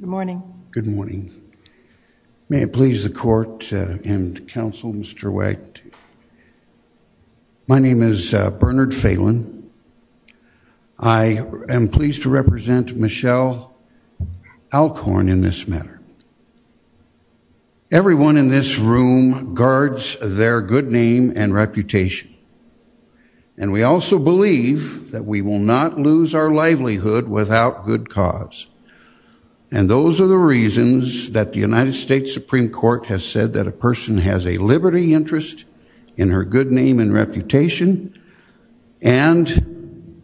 Good morning. May it please the Court and Council, Mr. Wagner. My name is Bernard Phelan. I am pleased to represent Michelle Alcorn in this matter. Everyone in this room guards their good name and reputation. And we also believe that we will not lose our livelihood without good cause. And those are the reasons that the United States Supreme Court has said that a person has a liberty interest in her good name and reputation and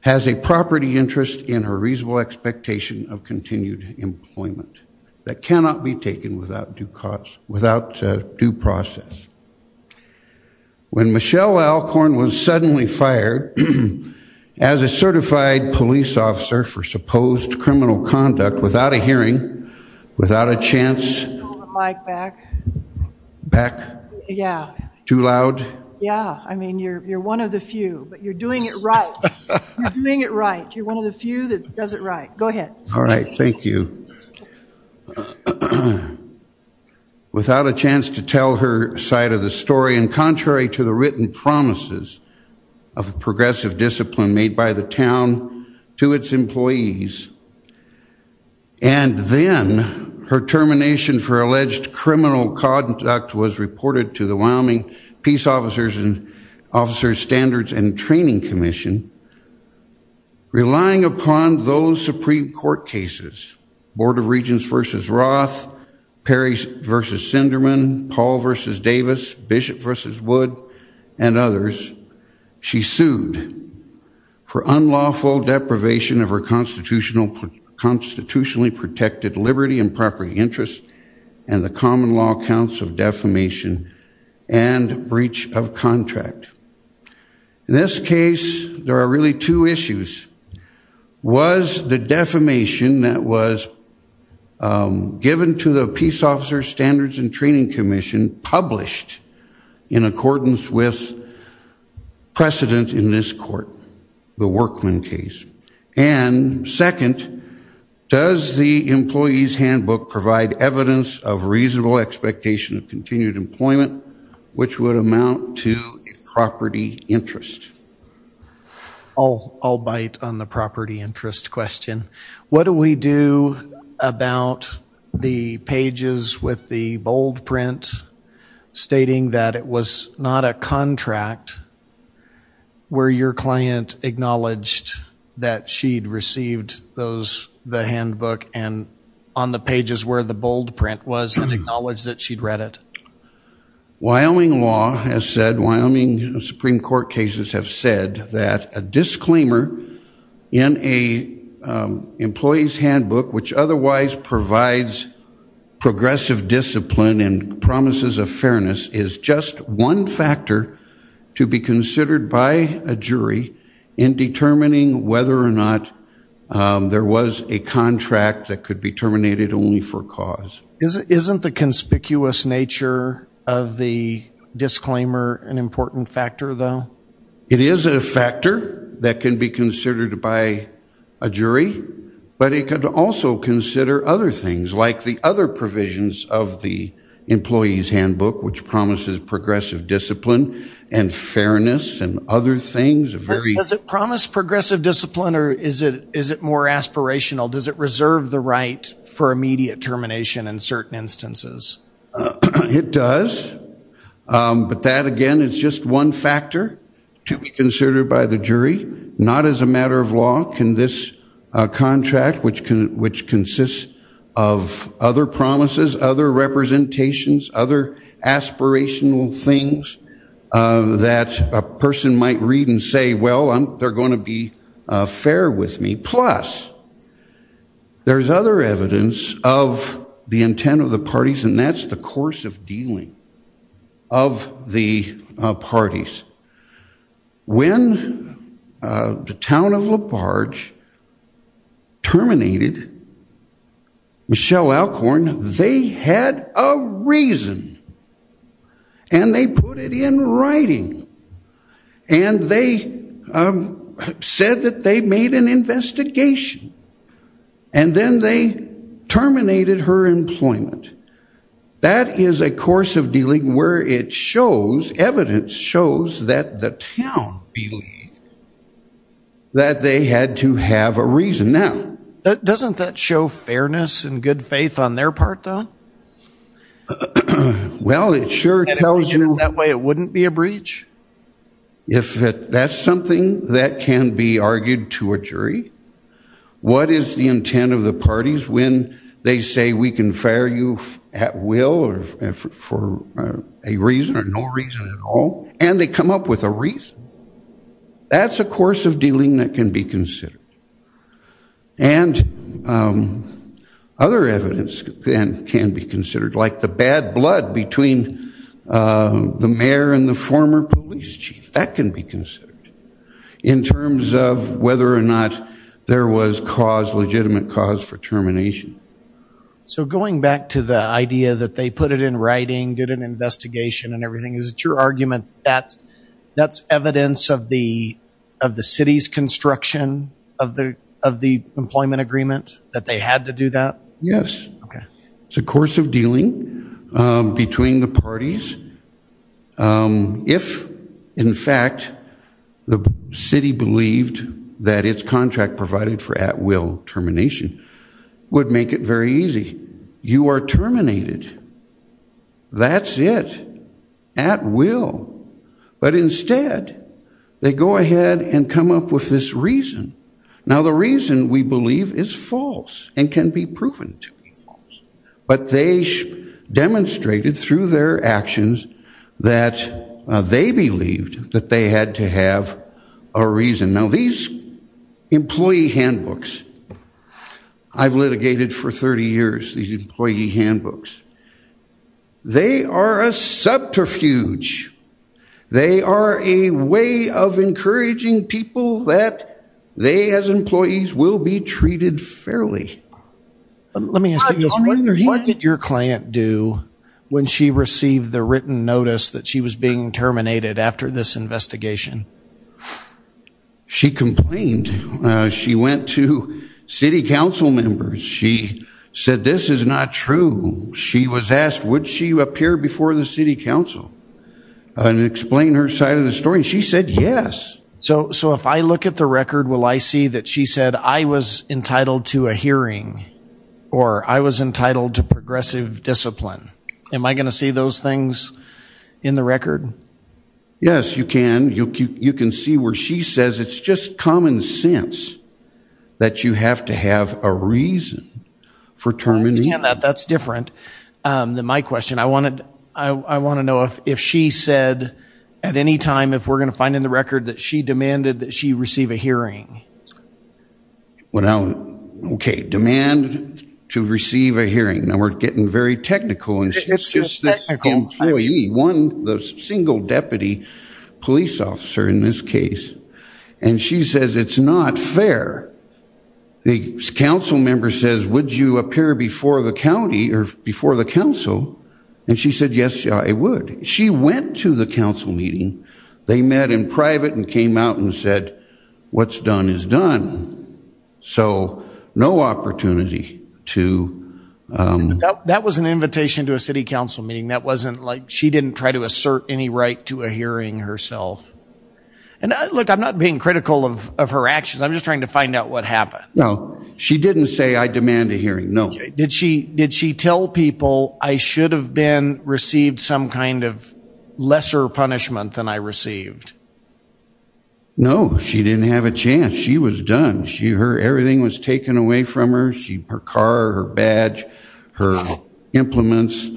has a property interest in her reasonable expectation of continued employment that cannot be taken without due process. When Michelle Alcorn was suddenly fired as a certified police officer for supposed criminal conduct without a hearing, without a chance, back, too loud? Yeah, I mean, you're one of the few, but you're doing it right. You're doing it right. You're one of the few that does it right. Go ahead. All right, thank you. Without a chance to tell her side of the story and contrary to the written promises of a progressive discipline made by the town to its employees, and then her termination for alleged criminal conduct was reported to the Wyoming Peace Officers Standards and Training Commission, relying upon those Supreme Court cases, Board of Regents v. Roth, Perry v. Sinderman, Paul v. Davis, Bishop v. Wood, and others, she sued for unlawful deprivation of her constitutionally protected liberty and property interest and the common law counts of defamation and breach of contract. In this case, there are really two issues. Was the defamation that was given to the Peace Officers Standards and Training Commission published in accordance with precedent in this court, the Workman case? And second, does the employee's handbook provide evidence of reasonable expectation of continued employment, which would amount to a property interest? I'll bite on the property interest question. What do we do about the pages with the bold where your client acknowledged that she'd received the handbook and on the pages where the bold print was and acknowledged that she'd read it? Wyoming law has said, Wyoming Supreme Court cases have said that a disclaimer in an employee's handbook which otherwise provides progressive discipline and promises of fairness is just one factor to be considered by a jury in determining whether or not there was a contract that could be terminated only for cause. Isn't the conspicuous nature of the disclaimer an important factor though? It is a factor that can be considered by a jury, but it could also consider other things like the other provisions of the employee's handbook which promises progressive discipline and fairness and other things. Does it promise progressive discipline or is it more aspirational? Does it reserve the right for immediate termination in certain instances? It does, but that again is just one factor to be considered by the jury, not as a matter of law can this contract which consists of other promises, other representations, other aspirational things that a person might read and say, well, they're going to be fair with me. Plus, there's other evidence of the intent of the parties and that's the course of dealing of the parties. When the town of La Barge terminated Michelle Alcorn, they had a reason and they put it in writing and they said that they made an investigation and then they terminated her employment. That is a course of dealing where it shows, evidence shows that the town believed that they had to have a reason. Now, doesn't that show fairness and good faith on their part though? Well, it sure tells you that way it wouldn't be a breach. If that's something that can be argued to a jury, what is the intent of the parties when they say we can fire you at will or for a reason or no reason at all and they come up with a reason? That's a course of dealing that can be considered. And other evidence can be considered like the bad blood between the mayor and the former police chief. That can be considered in terms of whether or not there was cause, legitimate cause for termination. So going back to the idea that they put it in writing, did an investigation and everything, is it your argument that that's evidence of the city's construction of the employment agreement? That they had to do that? Yes. It's a course of dealing between the parties. If in fact the city believed that its contract provided for at will termination would make it very easy. You are terminated. That's it. At will. But instead, they go ahead and come up with this reason. Now the reason we believe is false and can be proven to be false. But they demonstrated through their actions that they believed that they had to have a reason. Now these employee handbooks I've litigated for 30 years, these employee handbooks, they are a subterfuge. They are a way of encouraging people that they as employees will be treated fairly. Let me ask you this. What did your client do when she received the written notice that she was being terminated after this investigation? She complained. She went to city council members. She said this is not true. She was asked would she appear before the city council and explain her side of the story. She said yes. So if I look at the record will I see that she said I was entitled to a hearing or I was entitled to progressive discipline? Am I going to see those things in the record? Yes, you can. You can see where she says it's just common sense that you have to have a reason for terminating. That's different than my question. I want to know if she said at any time if we're going to find in the record that she demanded that she receive a hearing. Okay. Demand to receive a hearing. Now we're getting very technical and she's just an employee, one, the single deputy police officer in this case. And she says it's not fair. The council member says would you appear before the county or before the council? And she said yes, I would. She went to the council meeting. They met in private and came out and said what's done is done. So no opportunity to... That was an invitation to a city council meeting. She didn't try to assert any right to a hearing herself. And look, I'm not being critical of her actions. I'm just trying to find out what happened. No, she didn't say I demand a hearing, no. Did she tell people I should have received some kind of lesser punishment than I received? No, she didn't have a chance. She was done. Everything was taken away from her. Her car, her badge, her implements.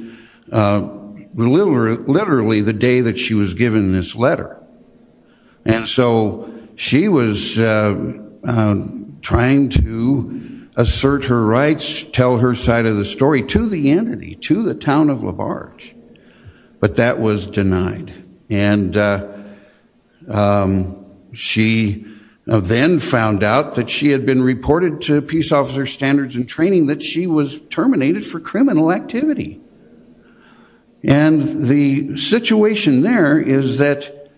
Literally the day that she was given this letter. And so she was trying to assert her rights, tell her side of the story to the entity, to the town of LaBarge. But that was denied. And she then found out that she had been reported to terminated for criminal activity. And the situation there is that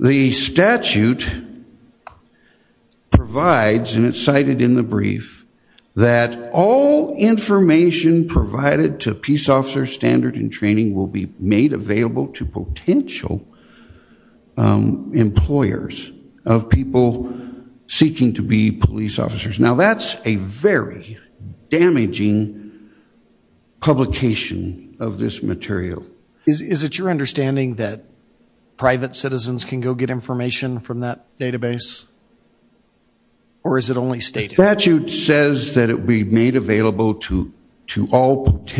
the statute provides, and it's cited in the brief, that all information provided to peace officers, standard and training will be made available to potential employers of people seeking to be able to receive information from that database. And that's the only way that we're managing publication of this material. Is it your understanding that private citizens can go get information from that database? Or is it only stated? The statute says that it will be made of any practice that allows the public to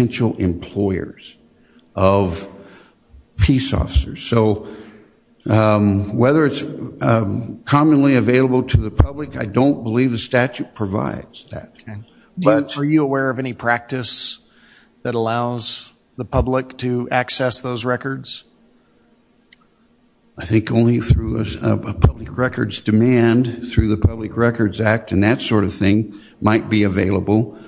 access those records? I think only through a public records demand, through the Public Records Act, and that sort of thing might be available,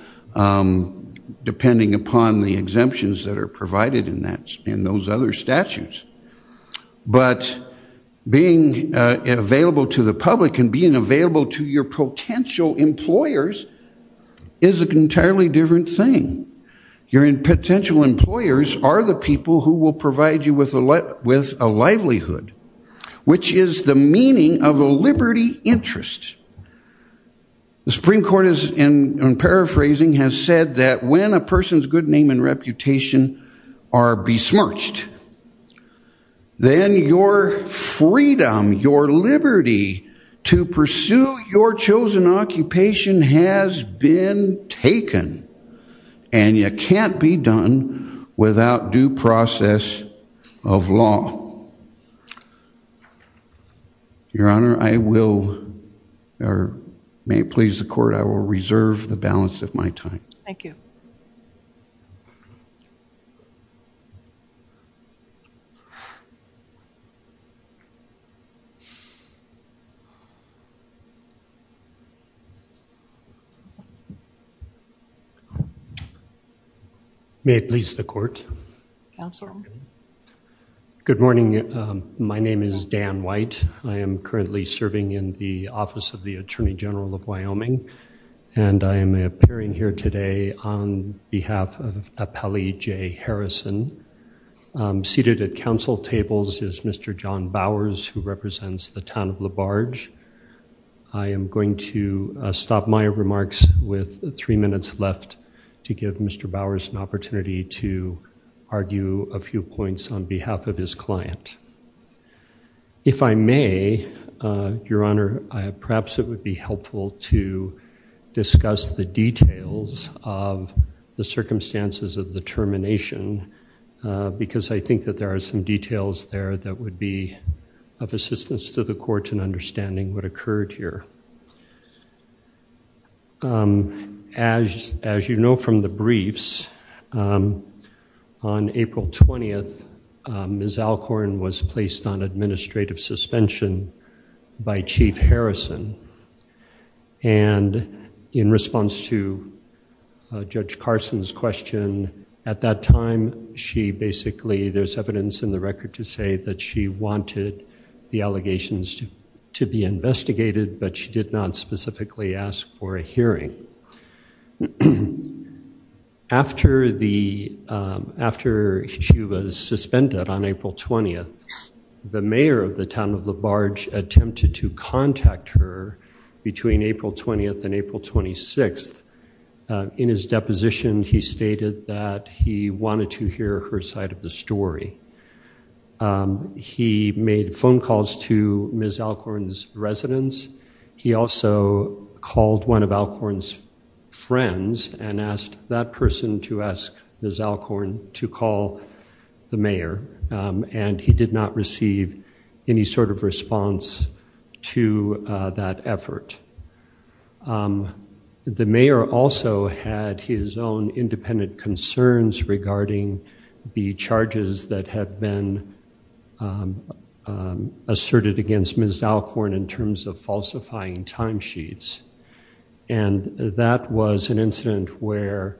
depending upon the exemptions that are provided in those other statutes. But being available to the public and being available to your potential employers is an entirely different thing. Your potential employers are the people who will provide you with a livelihood, which is the meaning of a liberty interest. The Supreme Court, in paraphrasing, has said that when a person's good name and reputation are besmirched, then your freedom, your liberty to pursue your chosen occupation has been taken. And you can't be done without due process of law. Your Honor, I will, or may it please the Court, I will reserve the balance of my time. May it please the Court. Good morning. My name is Dan White. I am currently serving in the Office of the Attorney General of Wyoming, and I am appearing here today on behalf of Appellee Jay Harrison. Seated at council tables is Mr. John Bowers, who represents the town of LaBarge. I am going to stop my remarks with three minutes left to give Mr. Bowers an opportunity to argue a few points on behalf of his client. If I may, Your Honor, perhaps it would be helpful to discuss the details of the circumstances of the termination, because I think that there are some details there that would be of assistance to the Court in understanding what occurred here. As you know from the briefs, on April 20th, Ms. Alcorn was placed on administrative suspension by Chief Harrison, and in response to Judge Carson's question, at that time, she basically, there's evidence in the record to say that she wanted the allegations to be investigated, but she did not specifically ask for a hearing. After she was suspended on April 20th, the mayor of the town of LaBarge attempted to contact her between April 20th and April 26th. In his deposition, he stated that he wanted to hear her side of the story. He made phone calls to Ms. Alcorn's residence. He also called one of Alcorn's friends and asked that person to ask Ms. Alcorn to call the mayor, and he did not receive any sort of response to that effort. The mayor also had his own independent concerns regarding the charges that had been asserted against Ms. Alcorn in terms of falsifying timesheets, and that was an incident where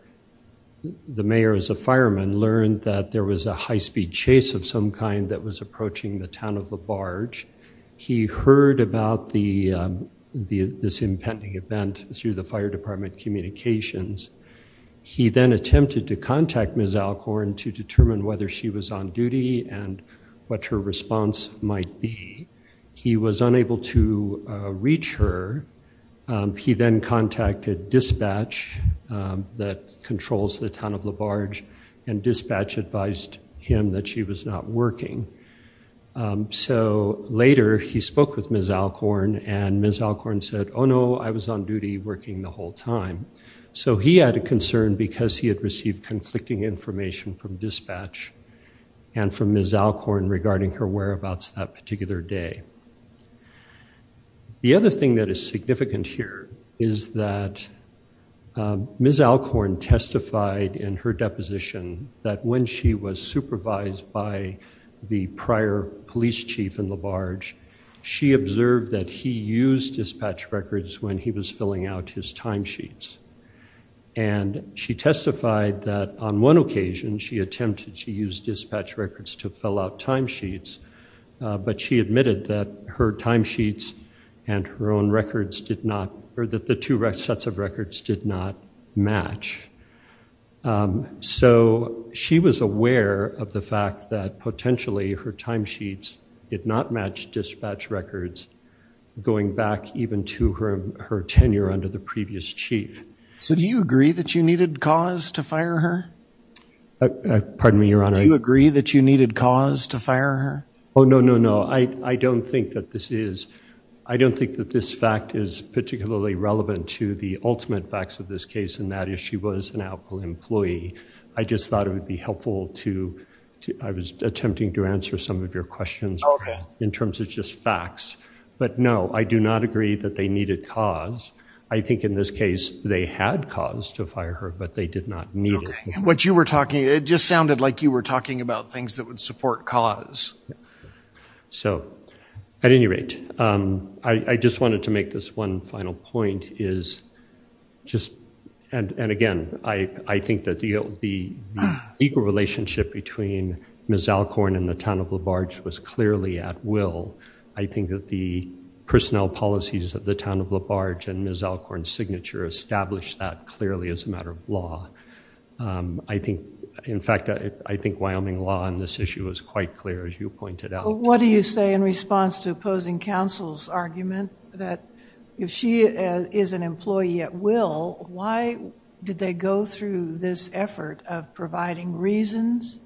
the mayor, as a fireman, learned that there was a high-speed chase of some kind that was approaching the town of LaBarge. He heard about this impending event through the fire department communications. He then attempted to contact Ms. Alcorn to determine whether she was on duty and what her response might be. He was unable to reach her. He then contacted dispatch that controls the town of LaBarge, and dispatch advised him that she was not working. So later, he spoke with Ms. Alcorn, and Ms. Alcorn said, oh no, I was on duty working the whole time. So he had a concern because he had received conflicting information from dispatch and from Ms. Alcorn regarding her whereabouts that particular day. The other thing that is significant here is that Ms. Alcorn testified in her deposition that when she was supervised by the prior police chief in LaBarge, she observed that he used dispatch records when he was filling out his timesheets. And she testified that on one occasion, she attempted to use dispatch records to fill out timesheets, but she admitted that her timesheets and her own records did not, or that the two sets of records did not match. So she was aware of the fact that potentially her timesheets did not match dispatch records going back even to her tenure under the previous chief. So do you agree that you needed cause to fire her? Pardon me, your honor. Do you agree that you needed cause to fire her? Oh no, no, no. I don't think that this is, I don't think that this fact is particularly relevant to the ultimate facts of this I was attempting to answer some of your questions in terms of just facts, but no, I do not agree that they needed cause. I think in this case, they had cause to fire her, but they did not need it. What you were talking, it just sounded like you were talking about things that would support cause. So at any rate, I just wanted to make this one final point is just, and again, I think that the equal relationship between Ms. Alcorn and the town of LaBarge was clearly at will. I think that the personnel policies of the town of LaBarge and Ms. Alcorn's signature established that clearly as a matter of law. I think, in fact, I think Wyoming law on this issue was quite clear as you pointed out. What do you say in response to opposing counsel's argument that if she is an effort of providing reasons?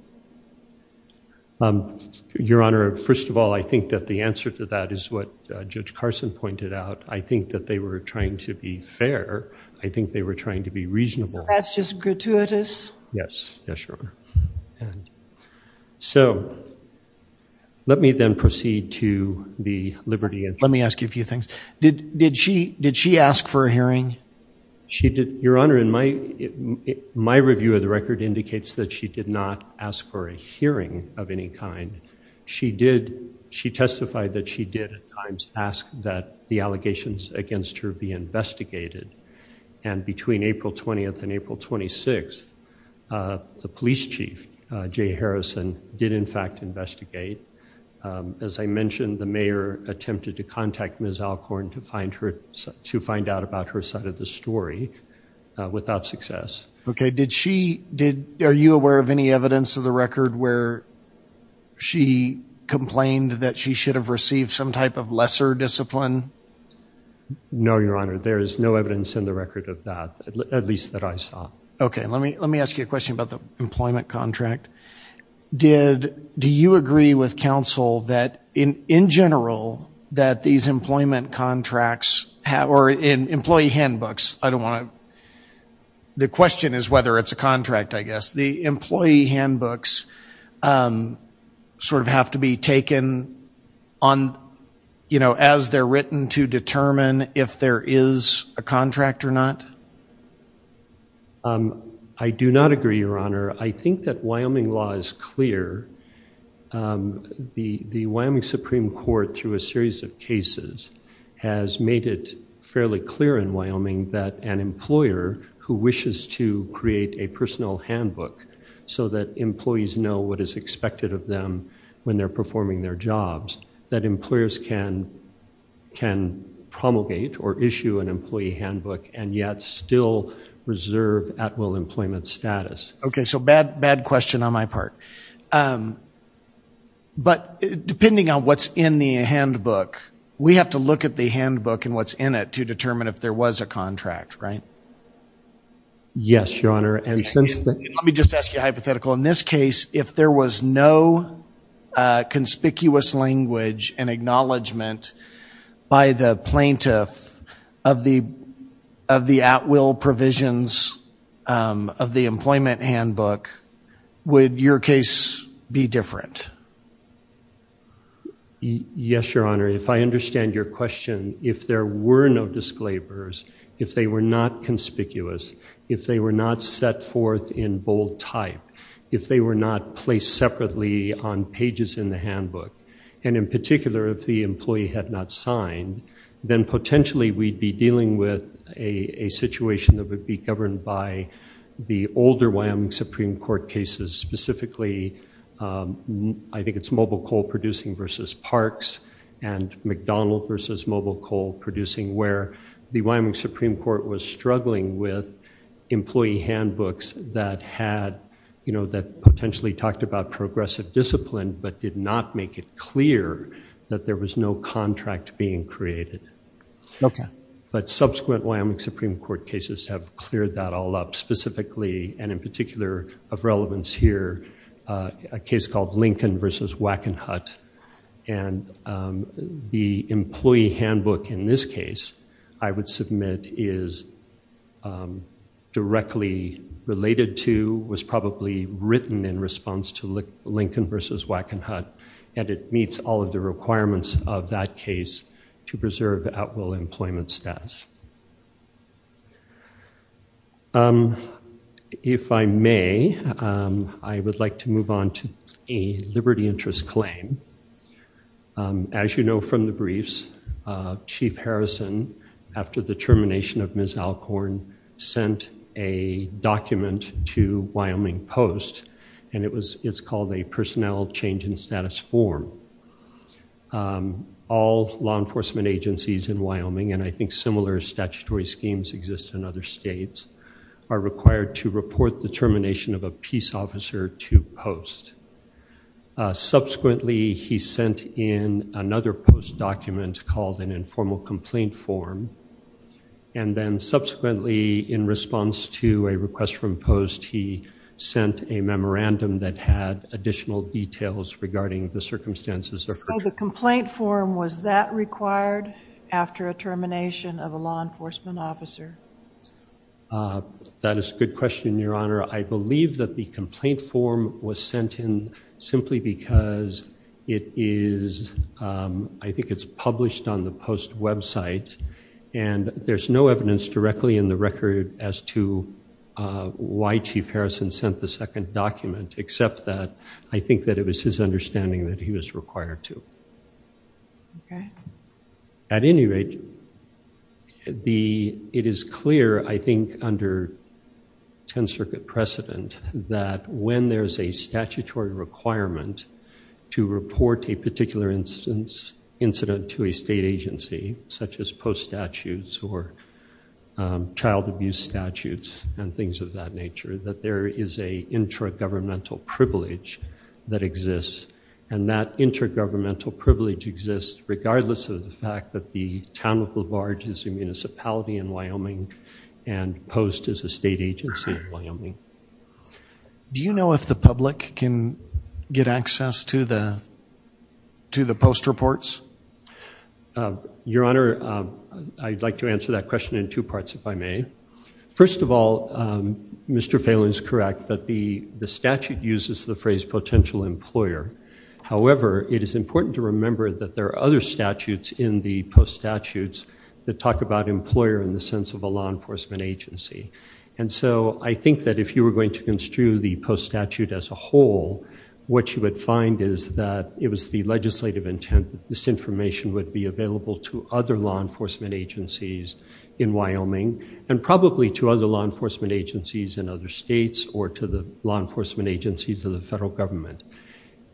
Your Honor, first of all, I think that the answer to that is what Judge Carson pointed out. I think that they were trying to be fair. I think they were trying to be reasonable. So that's just gratuitous? Yes, yes, Your Honor. So let me then proceed to the liberty of... Let me ask you a few things. Did she ask for a hearing? She did, Your Honor, in my review of the record indicates that she did not ask for a hearing of any kind. She did, she testified that she did at times ask that the allegations against her be investigated. And between April 20th and April 26th, the police chief, Jay Harrison, did in fact investigate. As I mentioned, the mayor attempted to contact Ms. Alcorn to find out about her side of the story without success. Okay. Did she, did, are you aware of any evidence of the record where she complained that she should have received some type of lesser discipline? No, Your Honor. There is no evidence in the record of that, at least that I saw. Okay. Let me, let me ask you a question about the employment contract. Did, do you agree with counsel that in, in general, that these employment contracts have, or in whether it's a contract, I guess, the employee handbooks sort of have to be taken on, you know, as they're written to determine if there is a contract or not? I do not agree, Your Honor. I think that Wyoming law is clear. The, the Wyoming Supreme Court through a series of cases has made it fairly clear in Wyoming that an employer who wishes to create a personal handbook so that employees know what is expected of them when they're performing their jobs, that employers can, can promulgate or issue an employee handbook and yet still reserve at-will employment status. Okay, so bad, bad question on my part. But depending on what's in the handbook, we have to look at the handbook and what's in it to determine if there was a contract, right? Yes, Your Honor. And let me just ask you a hypothetical. In this case, if there was no conspicuous language and acknowledgement by the plaintiff of the, of the at-will provisions of the employment handbook, would your case be different? Yes, Your Honor. If I understand your question, if there were no disclaimers, if they were not conspicuous, if they were not set forth in bold type, if they were not placed separately on pages in the handbook, and in particular, if the employee had not signed, then potentially we'd be dealing with a situation that would be governed by the older Wyoming Supreme Court cases, specifically, I think it's mobile coal producing versus parks and McDonald versus mobile coal producing, where the Wyoming Supreme Court was struggling with employee handbooks that had, you know, that potentially talked about progressive discipline, but did not make it clear that there was no contract being created. Okay. But subsequent Wyoming Supreme Court cases have cleared that all up, specifically, and in particular of relevance here, a case called Lincoln versus Wackenhut, and the employee handbook in this case, I would submit, is directly related to, was probably written in response to Lincoln versus Wackenhut, and it meets all of the requirements of that case to preserve at-will employment status. If I may, I would like to move on to a liberty interest claim. As you know from the briefs, Chief Harrison, after the termination of Ms. Alcorn, sent a document to Wyoming Post, and it's called a personnel change in status form. All law enforcement agencies in Wyoming, and I think similar statutory schemes exist in other states, are required to report the termination of a peace officer to Post. Subsequently, he sent in another Post document called an informal complaint form, and then subsequently, in response to a request from Post, he sent a memorandum that had additional details regarding the circumstances. So the complaint form, was that required after a termination of a law enforcement officer? That is a good question, Your Honor. I believe that the complaint form was sent in simply because it is, I think it's published on the Post website, and there's no evidence directly in the record as to why Chief Harrison sent the second document, except that I think that it was his understanding that he was required to. At any rate, it is clear, I think, under 10th Circuit precedent that when there's a statutory requirement to report a particular incident to a state agency, such as Post statutes, or child abuse statutes, and things of that nature, that there is a intra-governmental privilege that exists, and that inter-governmental privilege exists regardless of the fact that the town of LaVarge is a municipality in Wyoming, and Post is a state agency in Wyoming. Do you know if the public can get access to the Post reports? Your Honor, I'd like to answer that question in two parts, if I may. First of all, Mr. Phelan is correct that the statute uses the phrase potential employer. However, it is important to remember that there are other statutes in the Post statutes that talk about employer in the sense of a law enforcement agency. If you were going to construe the Post statute as a whole, what you would find is that it was the legislative intent that this information would be available to other law enforcement agencies in Wyoming, and probably to other law enforcement agencies in other states, or to the law enforcement agencies of the federal government.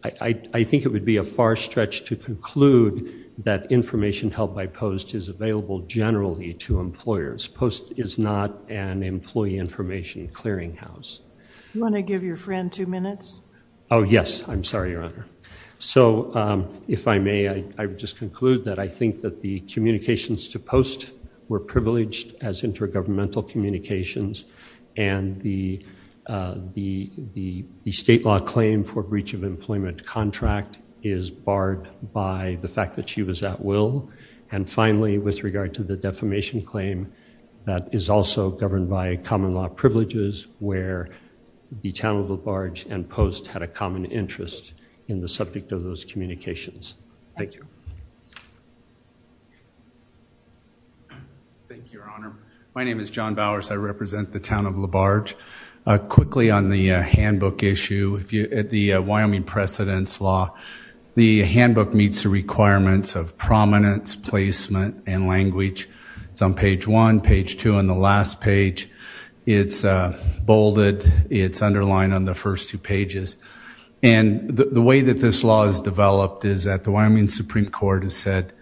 I think it would be a far stretch to conclude that information held by Post is available generally to employers. Post is not an employee information clearinghouse. Do you want to give your friend two minutes? Oh, yes. I'm sorry, Your Honor. So, if I may, I would just conclude that I think that the communications to Post were privileged as intergovernmental communications, and the state law claim for breach of employment contract is barred by the fact that she was at will. And finally, with regard to the defamation claim, that is also governed by common law privileges where the Town of LaBarge and Post had a common interest in the subject of those communications. Thank you. Thank you, Your Honor. My name is John Bowers. I represent the Town of LaBarge. Quickly on the handbook issue, at the Wyoming Precedence Law, the handbook meets the requirements of prominence, placement, and language. It's on page one, page two, and the last page. It's bolded. It's underlined on the first two pages. And the way that this law is developed is that the Wyoming Supreme Court has said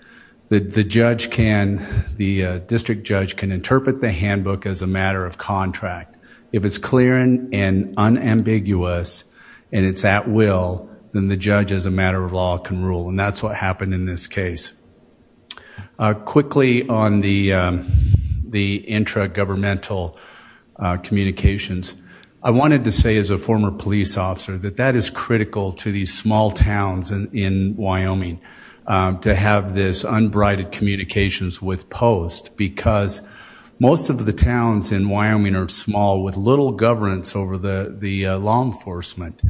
that the judge can, the district judge can interpret the handbook as a matter of contract. If it's clear and unambiguous, and it's at will, then the judge can interpret the handbook as a matter of contract. And that is the case. Quickly on the intra-governmental communications, I wanted to say as a former police officer that that is critical to these small towns in Wyoming to have this unbridled communications with Post, because most of the towns in Wyoming are small with little governance over the law enforcement.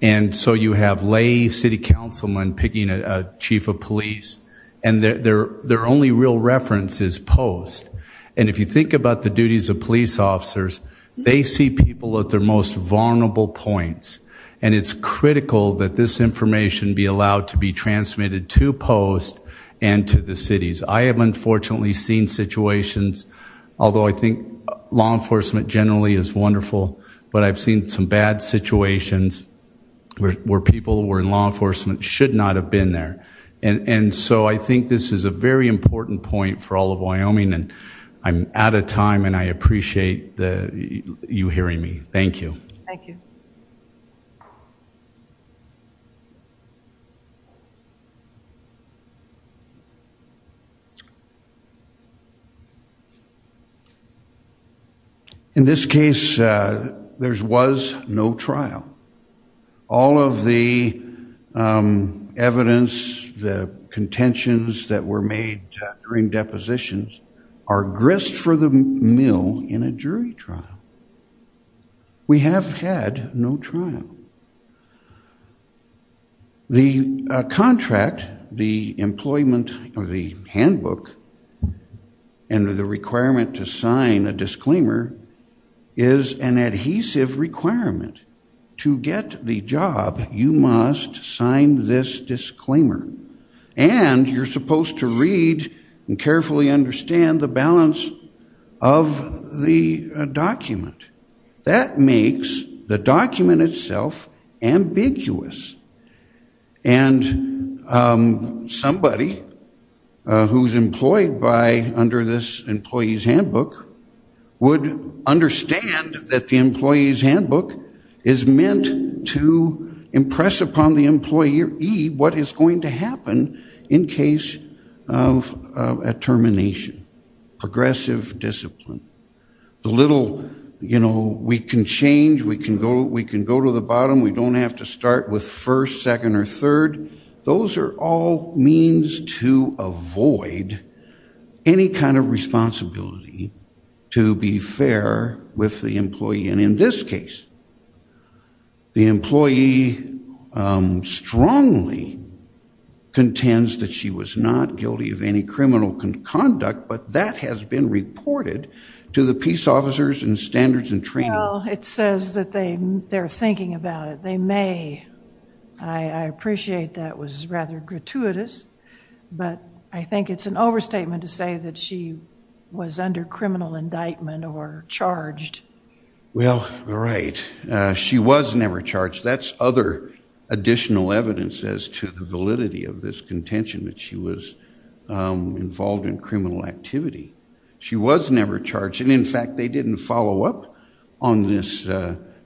And so you have lay city councilmen picking a chief of police, and their only real reference is Post. And if you think about the duties of police officers, they see people at their most vulnerable points. And it's critical that this information be allowed to be transmitted to Post and to the cities. I have unfortunately seen situations, although I think law enforcement generally is wonderful, but I've seen some bad situations where people who were in law enforcement should not have been there. And so I think this is a very important point for all of Wyoming, and I'm out of time, and I appreciate you hearing me. Thank you. Thank you. In this case, there was no trial. All of the evidence, the contentions that were made during depositions are grist for the mill in a jury trial. We have had no trial. The contract, the employment of the handbook, and the requirement to sign a disclaimer is an adhesive requirement. To get the job, you must sign this disclaimer. And you're supposed to read and carefully understand the balance of the document. That makes the document itself ambiguous. And somebody who's employed under this employee's handbook would understand that the employee's handbook is meant to impress upon the employee what is going to happen in case of a termination. Progressive discipline. The little, you know, we can change, we can go to the bottom, we don't have to start with first, second, or third. Those are all means to avoid any kind of responsibility to be fair with the employee. And in this case, the employee strongly contends that she was not guilty of any criminal conduct, but that has been reported to the peace officers and standards and training. Well, it says that they're thinking about it. They may. I appreciate that was rather gratuitous, but I think it's an overstatement to that she was under criminal indictment or charged. Well, right. She was never charged. That's other additional evidence as to the validity of this contention that she was involved in criminal activity. She was never charged. And in fact, they didn't follow up on this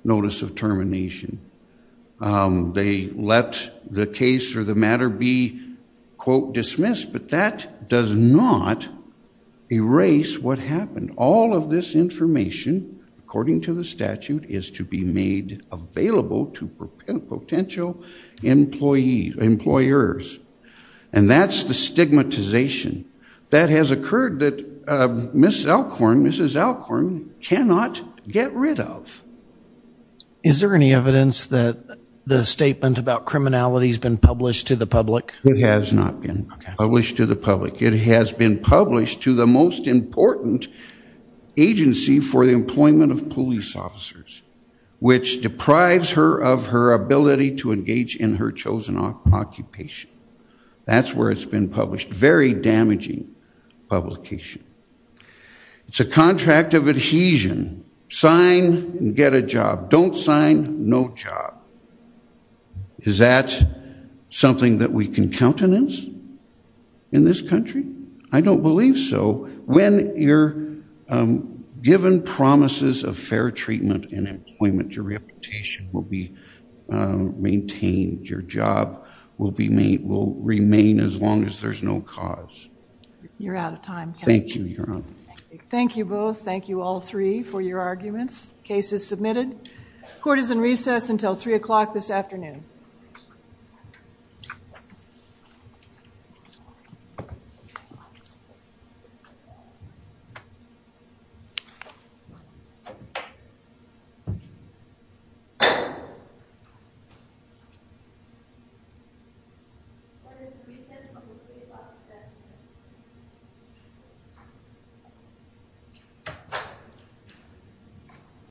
notice of termination. They let the case or the matter be, quote, dismissed. But that does not erase what happened. All of this information, according to the statute, is to be made available to potential employers. And that's the stigmatization that has occurred that Mrs. Alcorn cannot get rid of. Is there any evidence that the statement about criminality has been published to the public? It has not been published to the public. It has been published to the most important agency for the employment of police officers, which deprives her of her ability to engage in her chosen occupation. That's where it's been published. Very damaging publication. It's a contract of adhesion. Sign and get a job. Don't sign. No job. Is that something that we can countenance in this country? I don't believe so. When you're given promises of fair treatment and employment, your reputation will be maintained. Your job will remain as long as there's no cause. You're out of time. Thank you. Thank you, both. Thank you, all three, for your arguments. Case is submitted. Court is in recess until 3 o'clock this afternoon. Thank you.